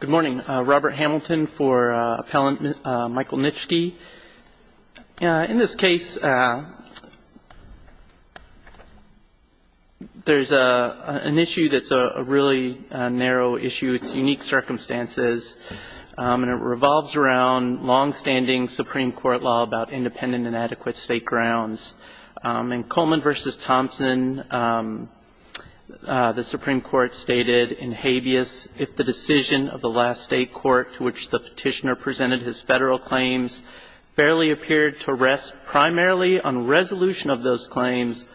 Good morning, Robert Hamilton for appellant Michael Nitschke. In this case, there's an issue that's a really narrow issue. It's unique circumstances, and it revolves around longstanding Supreme Court law about independent and adequate state grounds. In Coleman v. Thompson, the Supreme Court stated in habeas, if the decision of the last state court to which the petitioner presented his Federal claims barely appeared to rest primarily on resolution of those claims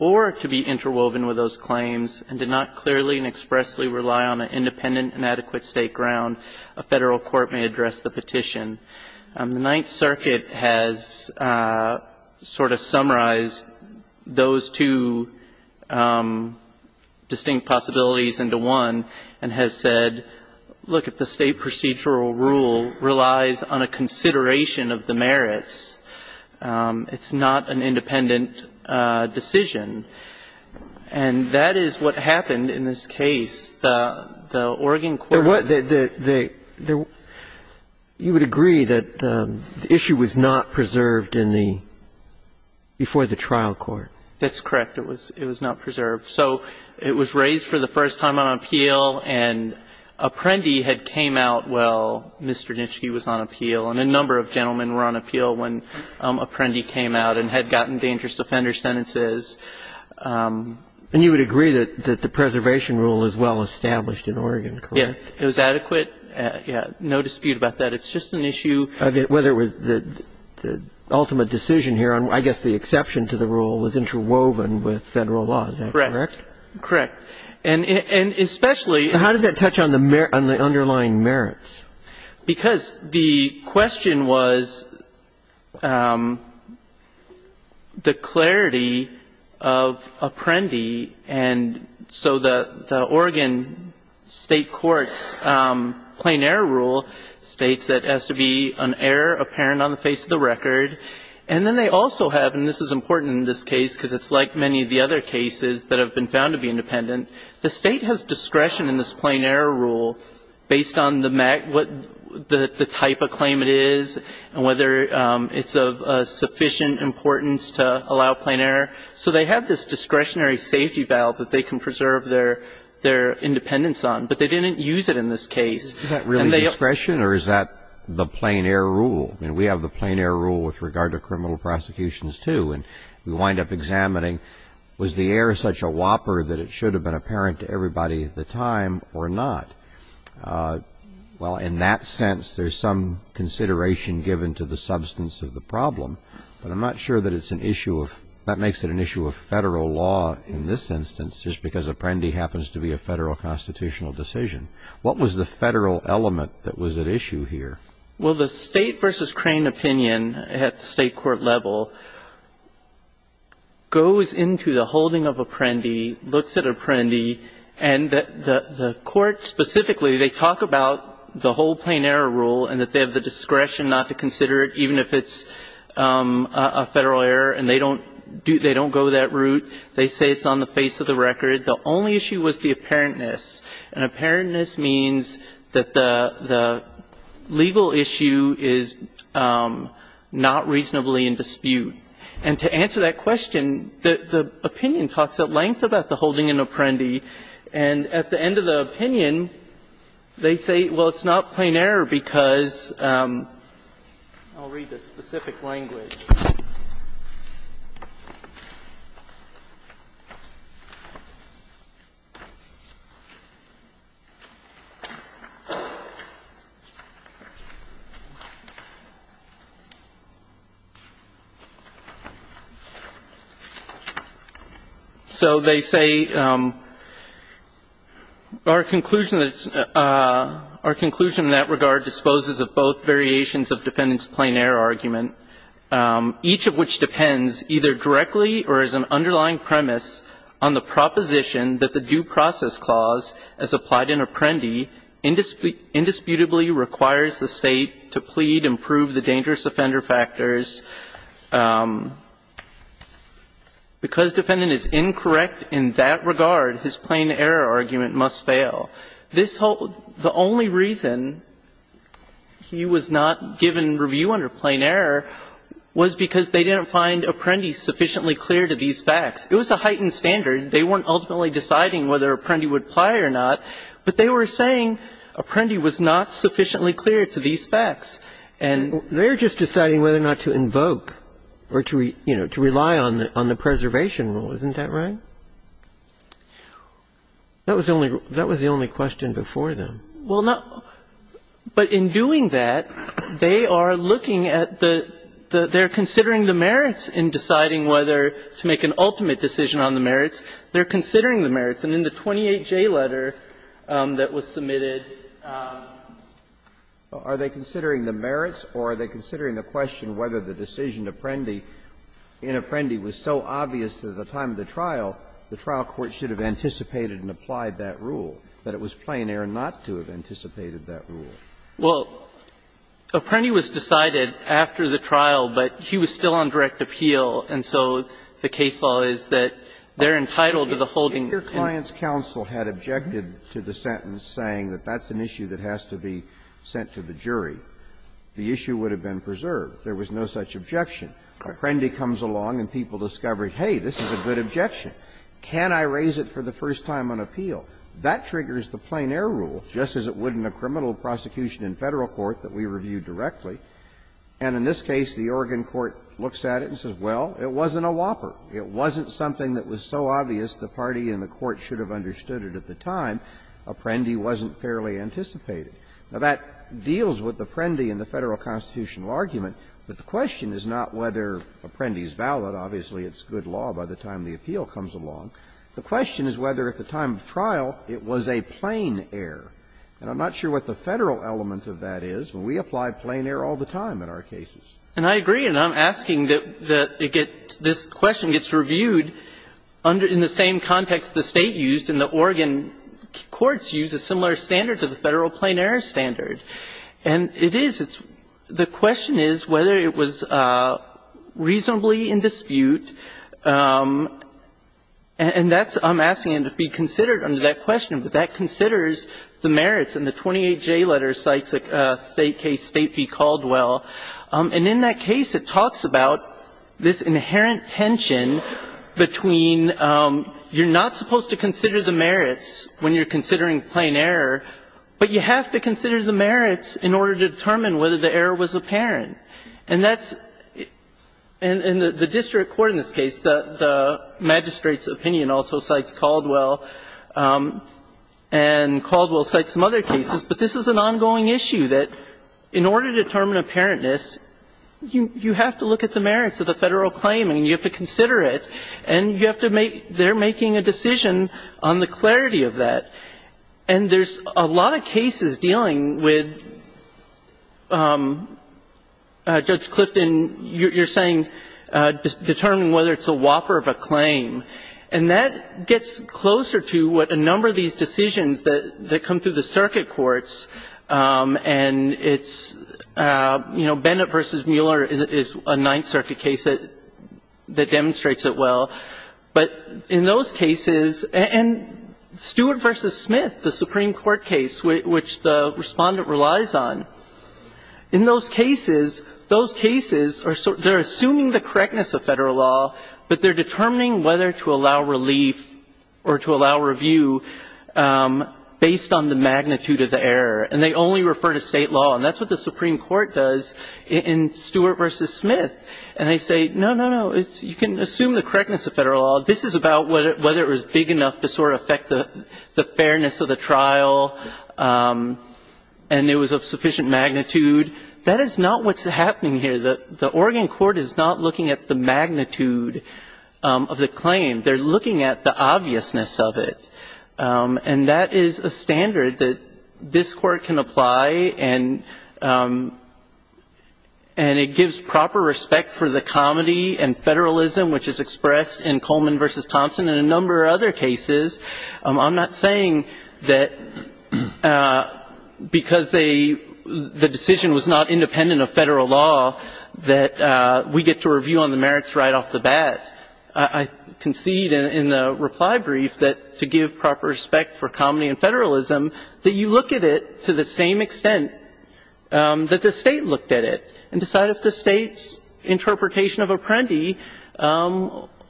or to be interwoven with those claims and did not clearly and expressly rely on an independent and adequate state ground, a Federal court may address the petition. The Ninth Circuit has sort of summarized those two distinct possibilities into one and has said, look, if the state procedural rule relies on a consideration of the merits, it's not an independent decision. And that is what happened in this case. It's the Oregon court. You would agree that the issue was not preserved in the before the trial court. That's correct. It was not preserved. So it was raised for the first time on appeal, and Apprendi had came out while Mr. Nitschke was on appeal, and a number of gentlemen were on appeal when Apprendi came out and had gotten dangerous offender sentences. And you would agree that the preservation rule is well established in Oregon, correct? Yes. It was adequate. No dispute about that. It's just an issue of whether it was the ultimate decision here on, I guess, the exception to the rule was interwoven with Federal law. Is that correct? Correct. And especially as How does that touch on the underlying merits? Because the question was the clarity of Apprendi. And so the Oregon State court's plain error rule states that it has to be an error apparent on the face of the record. And then they also have, and this is important in this case because it's like many of the other cases that have been found to be independent, the State has discretion in this plain error rule based on the type of claim it is and whether it's of sufficient importance to allow plain error. So they have this discretionary safety valve that they can preserve their independence on, but they didn't use it in this case. Is that really discretion or is that the plain error rule? I mean, we have the plain error rule with regard to criminal prosecutions, too, and we wind up examining was the error such a whopper that it should have been apparent to everybody at the time or not. Well, in that sense, there's some consideration given to the substance of the problem, but I'm not sure that it's an issue of that makes it an issue of Federal law in this instance just because Apprendi happens to be a Federal constitutional decision. What was the Federal element that was at issue here? Well, the State v. Crane opinion at the State court level goes into the holding of Apprendi, looks at Apprendi, and the court specifically, they talk about the whole plain error rule and that they have the discretion not to consider it even if it's a Federal error and they don't go that route. They say it's on the face of the record. The only issue was the apparentness, and apparentness means that the legal issue is not reasonably in dispute. And to answer that question, the opinion talks at length about the holding in Apprendi, and at the end of the opinion, they say, well, it's not plain error because I'll read the specific language. So they say our conclusion that's – our conclusion in that regard disposes of both variations of defendant's plain error argument. Each of which depends either directly or as an underlying premise on the proposition that the due process clause, as applied in Apprendi, indisputably requires the State to plead and prove the dangerous offender factors. Because defendant is incorrect in that regard, his plain error argument must fail. This whole – the only reason he was not given review under plain error was because they didn't find Apprendi sufficiently clear to these facts. It was a heightened standard. They weren't ultimately deciding whether Apprendi would apply or not, but they were saying Apprendi was not sufficiently clear to these facts. And they're just deciding whether or not to invoke or to, you know, to rely on the preservation rule. Isn't that right? That was the only – that was the only question before them. Well, not – but in doing that, they are looking at the – they're considering the merits in deciding whether to make an ultimate decision on the merits. They're considering the merits. And in the 28J letter that was submitted – Are they considering the merits or are they considering the question whether the decision in Apprendi was so obvious that at the time of the trial, the trial court should have anticipated and applied that rule, that it was plain error not to have anticipated that rule? Well, Apprendi was decided after the trial, but he was still on direct appeal, and so the case law is that they're entitled to the holding. If your client's counsel had objected to the sentence saying that that's an issue that has to be sent to the jury, the issue would have been preserved. There was no such objection. Apprendi comes along and people discover, hey, this is a good objection. Can I raise it for the first time on appeal? That triggers the plain error rule, just as it would in a criminal prosecution in Federal court that we review directly. And in this case, the Oregon court looks at it and says, well, it wasn't a whopper. It wasn't something that was so obvious the party in the court should have understood it at the time. Apprendi wasn't fairly anticipated. Now, that deals with Apprendi in the Federal constitutional argument, but the question is not whether Apprendi is valid. Obviously, it's good law by the time the appeal comes along. The question is whether at the time of trial it was a plain error. And I'm not sure what the Federal element of that is. We apply plain error all the time in our cases. And I agree, and I'm asking that this question gets reviewed in the same context the State used and the Oregon courts used, a similar standard to the Federal plain error standard. And it is. The question is whether it was reasonably in dispute. And that's why I'm asking it to be considered under that question, but that considers the merits in the 28J letter, Sykes State case, State v. Caldwell. And in that case, it talks about this inherent tension between you're not supposed to consider the merits when you're considering plain error, but you have to consider the merits in order to determine whether the error was apparent. And that's the district court in this case, the magistrate's opinion also cites Caldwell, and Caldwell cites some other cases, but this is an ongoing issue that in order to determine apparentness, you have to look at the merits of the Federal claim, and you have to consider it, and you have to make they're making a decision on the clarity of that. And there's a lot of cases dealing with Judge Clifton, you're saying, determining whether it's a whopper of a claim. And that gets closer to what a number of these decisions that come through the circuit courts, and it's, you know, Bennett v. Mueller is a Ninth Circuit case that demonstrates it well. But in those cases, and Stewart v. Smith, the Supreme Court case, which the Respondent relies on, in those cases, those cases are sort of, they're assuming the correctness of Federal law, but they're determining whether to allow relief or to allow review based on the magnitude of the error. And they only refer to State law, and that's what the Supreme Court does in Stewart v. But in determining the correctness of Federal law, this is about whether it was big enough to sort of affect the fairness of the trial, and it was of sufficient magnitude. That is not what's happening here. The Oregon court is not looking at the magnitude of the claim. They're looking at the obviousness of it. And that is a standard that this Court can apply, and it gives proper respect for the comedy and Federalism which is expressed in Coleman v. Thompson and a number of other cases. I'm not saying that because they, the decision was not independent of Federal law that we get to review on the merits right off the bat. I concede in the reply brief that to give proper respect for comedy and Federalism, that you look at it to the same extent that the State looked at it and decide if the State's interpretation of Apprendi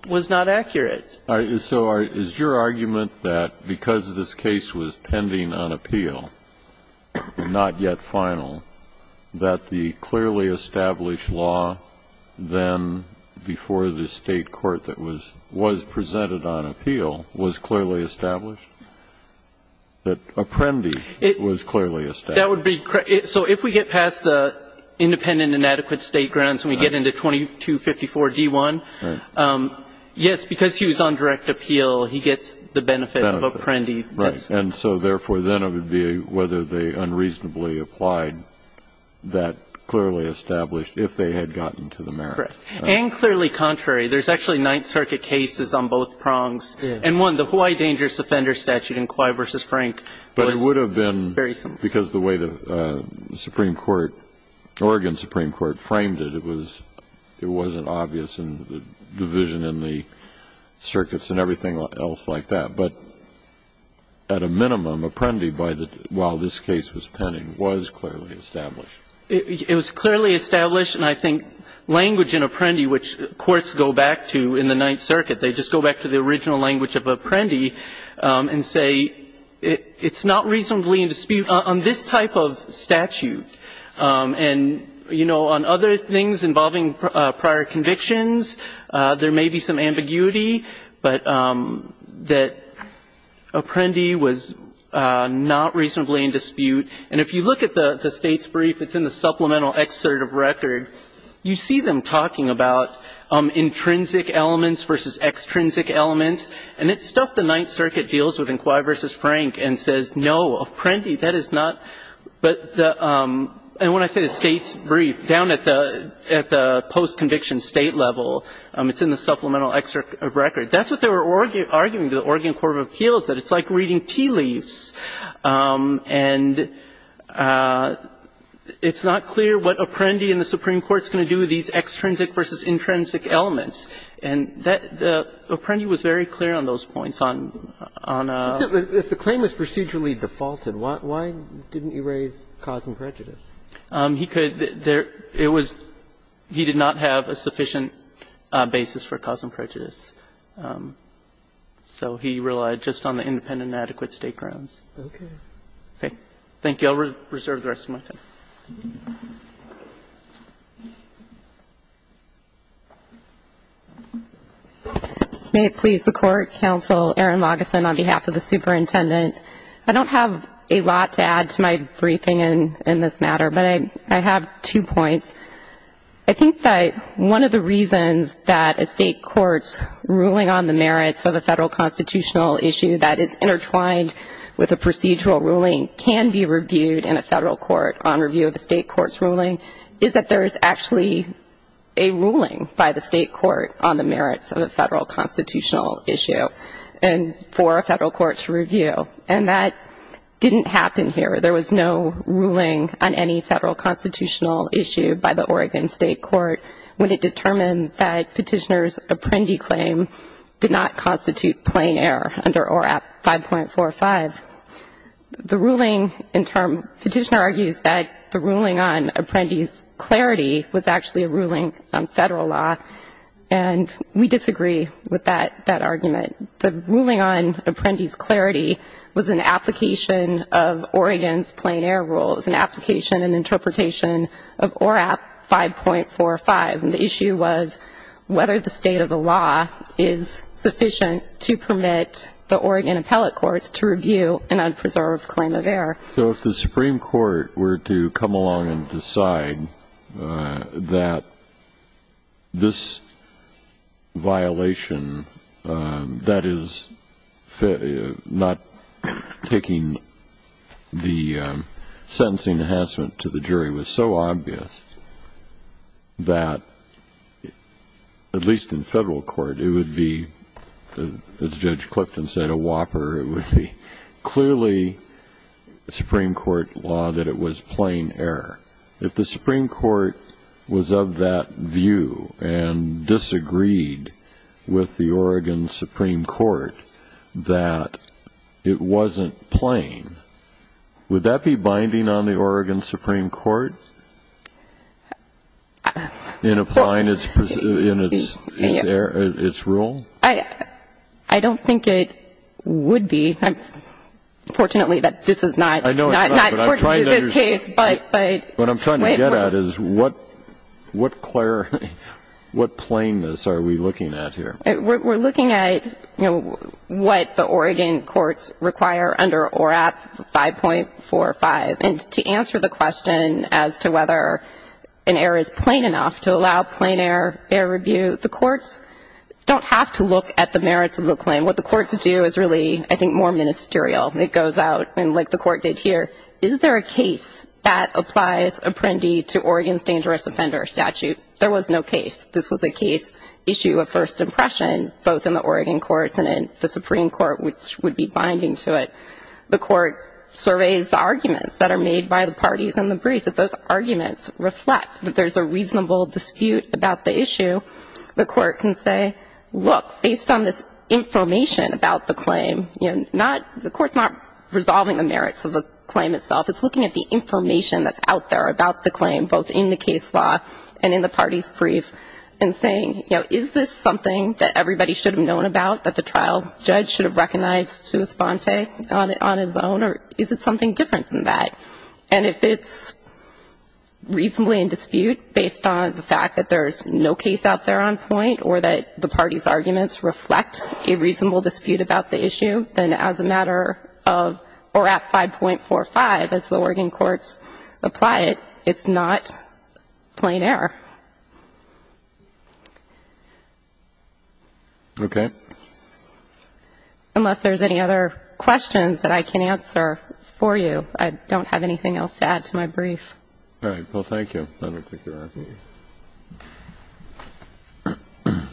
was not accurate. So is your argument that because this case was pending on appeal, not yet final, that the clearly established law then before the State court that was presented on appeal was clearly established, that Apprendi was clearly established? That would be, so if we get past the independent and adequate State grounds and we get into 2254 D1, yes, because he was on direct appeal, he gets the benefit of Apprendi. And so therefore then it would be whether they unreasonably applied that clearly established, if they had gotten to the merit. And clearly contrary. There's actually Ninth Circuit cases on both prongs. And one, the Hawaii dangerous offender statute in Quai v. Frank. But it would have been, because the way the Supreme Court, Oregon Supreme Court, framed it, it was, it wasn't obvious in the division in the circuits and everything else like that. But at a minimum, Apprendi, while this case was pending, was clearly established. It was clearly established. And I think language in Apprendi, which courts go back to in the Ninth Circuit, they just go back to the original language of Apprendi and say, it's not reasonably in dispute on this type of statute. And, you know, on other things involving prior convictions, there may be some ambiguity, but that Apprendi was not reasonably in dispute. And if you look at the State's brief, it's in the supplemental excerpt of record, you see them talking about intrinsic elements versus extrinsic elements. And it's stuff the Ninth Circuit deals with in Quai v. Frank and says, no, Apprendi, that is not. But the – and when I say the State's brief, down at the post-conviction State level, it's in the supplemental excerpt of record. That's what they were arguing to the Oregon court of appeals, that it's like reading tea leaves. And it's not clear what Apprendi and the Supreme Court is going to do with these extrinsic versus intrinsic elements. And Apprendi was very clear on those points. On a – If the claim was procedurally defaulted, why didn't he raise cause and prejudice? He could. It was – he did not have a sufficient basis for cause and prejudice. So he relied just on the independent and adequate state grounds. Okay. Okay. Thank you. I'll reserve the rest of my time. May it please the Court, Counsel Aaron Lageson on behalf of the superintendent. I don't have a lot to add to my briefing in this matter, but I have two points. I think that one of the reasons that a state court's ruling on the merits of a federal constitutional issue that is intertwined with a procedural ruling can be reviewed in a federal court on review of a state court's ruling is that there is actually a ruling by the state court on the merits of a federal constitutional issue for a federal court to review. And that didn't happen here. There was no ruling on any federal constitutional issue by the Oregon state court when it determined that Petitioner's apprendi claim did not constitute plain error under ORAP 5.45. The ruling in – Petitioner argues that the ruling on apprendi's clarity was actually a ruling on federal law, and we disagree with that argument. The ruling on apprendi's clarity was an application of Oregon's plain error rules, an application and interpretation of ORAP 5.45. And the issue was whether the state of the law is sufficient to permit the Oregon appellate courts to review an unpreserved claim of error. So if the Supreme Court were to come along and decide that this violation that is not taking the sentencing enhancement to the jury was so obvious that at least in federal court it would be, as Judge Clifton said, a whopper. It would be clearly Supreme Court law that it was plain error. If the Supreme Court was of that view and disagreed with the Oregon Supreme Court that it wasn't plain, would that be binding on the Oregon Supreme Court in applying its rule? I don't think it would be. Fortunately, this is not pertinent to this case. I know it's not, but I'm trying to understand. What I'm trying to get at is what plainness are we looking at here? We're looking at, you know, what the Oregon courts require under ORAP 5.45. And to answer the question as to whether an error is plain enough to allow plain error review, the courts don't have to look at the merits of the claim. What the courts do is really, I think, more ministerial. It goes out, and like the court did here, is there a case that applies Apprendi to Oregon's dangerous offender statute? There was no case. This was a case issue of first impression, both in the Oregon courts and in the Supreme Court, which would be binding to it. The court surveys the arguments that are made by the parties in the brief. If those arguments reflect that there's a reasonable dispute about the issue, the court can say, look, based on this information about the claim, you know, the court's not resolving the merits of the claim itself. It's looking at the information that's out there about the claim, both in the case law and in the parties' briefs, and saying, you know, is this something that everybody should have known about, that the trial judge should have recognized to his fonte on his own, or is it something different than that? And if it's reasonably in dispute, based on the fact that there's no case out there on point, or that the parties' arguments reflect a reasonable dispute about the issue, then as a matter of, or at 5.45, as the Oregon courts apply it, it's not plain error. Okay. Unless there's any other questions that I can answer for you. I don't have anything else to add to my brief. All right. Well, thank you. I don't think there are any.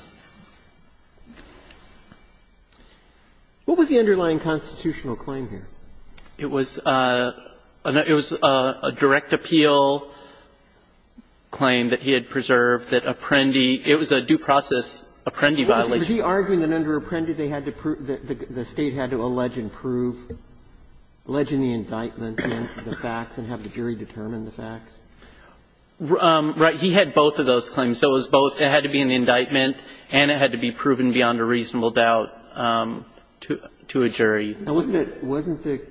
What was the underlying constitutional claim here? It was a direct appeal claim that he had preserved that Apprendi, it was a due process Apprendi violation. Was he arguing that under Apprendi they had to prove, the State had to allege and prove, allege in the indictment the facts and have the jury determine the facts? Right. He had both of those claims. So it was both, it had to be in the indictment and it had to be proven beyond a reasonable doubt to a jury. Now, wasn't it, wasn't the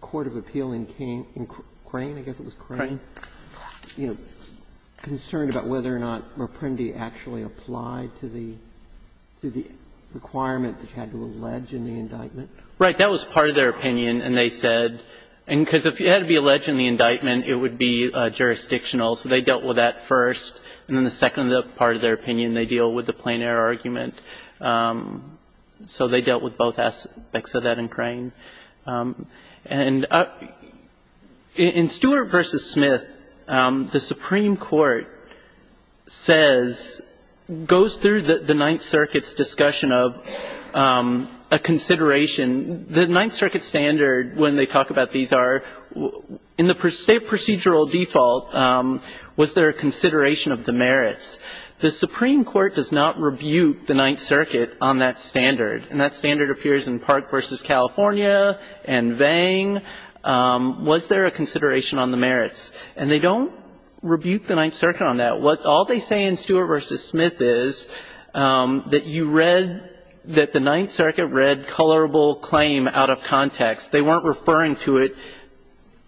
court of appeal in Crane, I guess it was Crane, concerned about whether or not Apprendi actually applied to the requirement that you had to allege in the indictment? Right. That was part of their opinion. And they said, because if you had to allege in the indictment, it would be jurisdictional. So they dealt with that first. And then the second part of their opinion, they deal with the plein air argument. So they dealt with both aspects of that in Crane. And in Stewart v. Smith, the Supreme Court says, goes through the Ninth Circuit's standard when they talk about these are, in the state procedural default, was there a consideration of the merits? The Supreme Court does not rebuke the Ninth Circuit on that standard. And that standard appears in Park v. California and Vang. Was there a consideration on the merits? And they don't rebuke the Ninth Circuit on that. All they say in Stewart v. Smith is that you read, that the Ninth Circuit read, colorable claim out of context. They weren't referring to it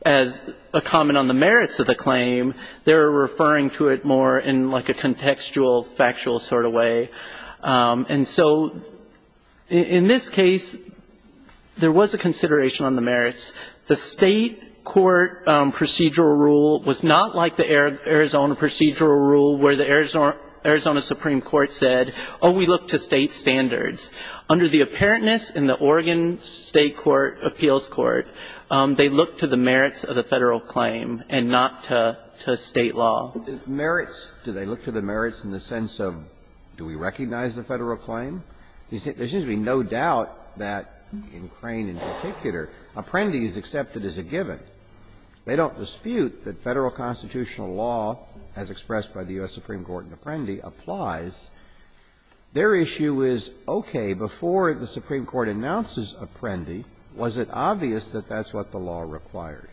as a comment on the merits of the claim. They were referring to it more in like a contextual, factual sort of way. And so in this case, there was a consideration on the merits. The State court procedural rule was not like the Arizona procedural rule where the Arizona Supreme Court said, oh, we look to State standards. Under the apparentness in the Oregon State court, appeals court, they look to the merits of the Federal claim and not to State law. Merits. Do they look to the merits in the sense of do we recognize the Federal claim? There seems to be no doubt that in Crane in particular, apprendi is accepted as a given. They don't dispute that Federal constitutional law, as expressed by the U.S. Supreme Court in Apprendi, applies. Their issue is, okay, before the Supreme Court announces Apprendi, was it obvious that that's what the law required?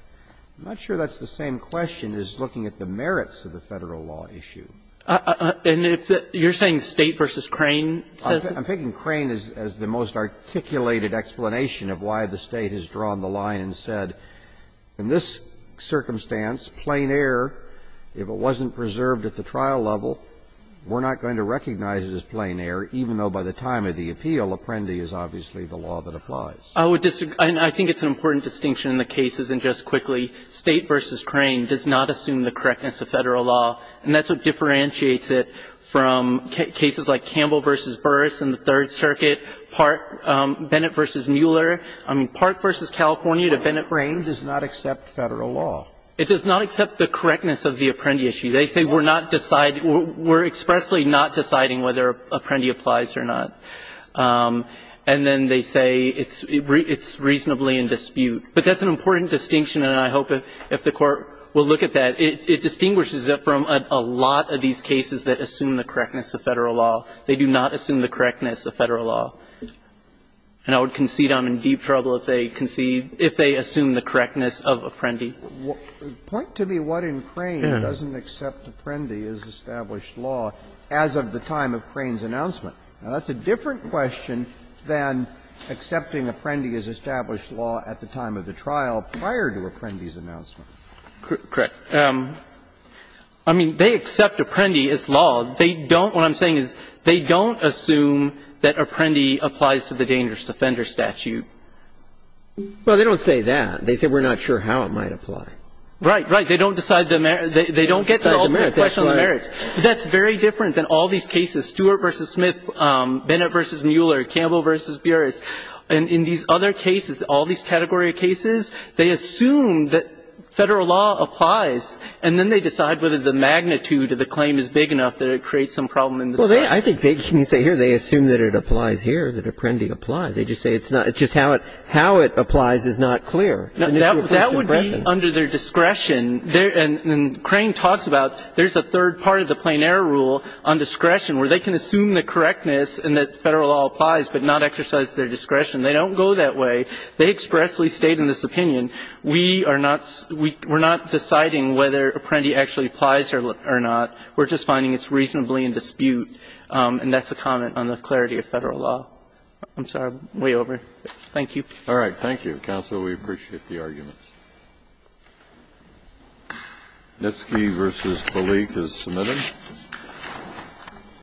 I'm not sure that's the same question as looking at the merits of the Federal law issue. And if you're saying State v. Crane says it? I'm thinking Crane is the most articulated explanation of why the State has drawn the line and said, in this circumstance, plain error, if it wasn't preserved at the trial level, we're not going to recognize it as plain error, even though by the time of the appeal, Apprendi is obviously the law that applies. I would disagree. I think it's an important distinction in the cases. And just quickly, State v. Crane does not assume the correctness of Federal law, and that's what differentiates it from cases like Campbell v. Burris in the Third Circuit, Bennett v. Mueller, I mean, Park v. California to Bennett v. Burris. Sotomayor, it does not accept Federal law. It does not accept the correctness of the Apprendi issue. They say we're not deciding, we're expressly not deciding whether Apprendi applies or not. And then they say it's reasonably in dispute. But that's an important distinction, and I hope if the Court will look at that, it distinguishes it from a lot of these cases that assume the correctness of Federal law. They do not assume the correctness of Federal law. And I would concede I'm in deep trouble if they concede, if they assume the correctness of Apprendi. Roberts, point to me what in Crane doesn't accept Apprendi as established law as of the time of Crane's announcement. Now, that's a different question than accepting Apprendi as established law at the time of the trial prior to Apprendi's announcement. Correct. I mean, they accept Apprendi as law. They don't – what I'm saying is they don't assume that Apprendi applies to the dangerous offender statute. Well, they don't say that. They say we're not sure how it might apply. Right, right. They don't decide the merits. They don't get to the question of the merits. That's very different than all these cases, Stewart v. Smith, Bennett v. Mueller, Campbell v. Burris. And in these other cases, all these category of cases, they assume that Federal law applies, and then they decide whether the magnitude of the claim is big enough that it creates some problem in the statute. Well, I think they can say here they assume that it applies here, that Apprendi applies. They just say it's not – just how it applies is not clear. That would be under their discretion. And Crane talks about there's a third part of the plein air rule on discretion where they can assume the correctness and that Federal law applies, but not exercise their discretion. They don't go that way. They expressly state in this opinion, we are not – we're not deciding whether Apprendi actually applies or not. We're just finding it's reasonably in dispute, and that's a comment on the clarity of Federal law. I'm sorry. I'm way over. Thank you. All right. Thank you, counsel. We appreciate the arguments. Nitsky v. Kalik is submitted.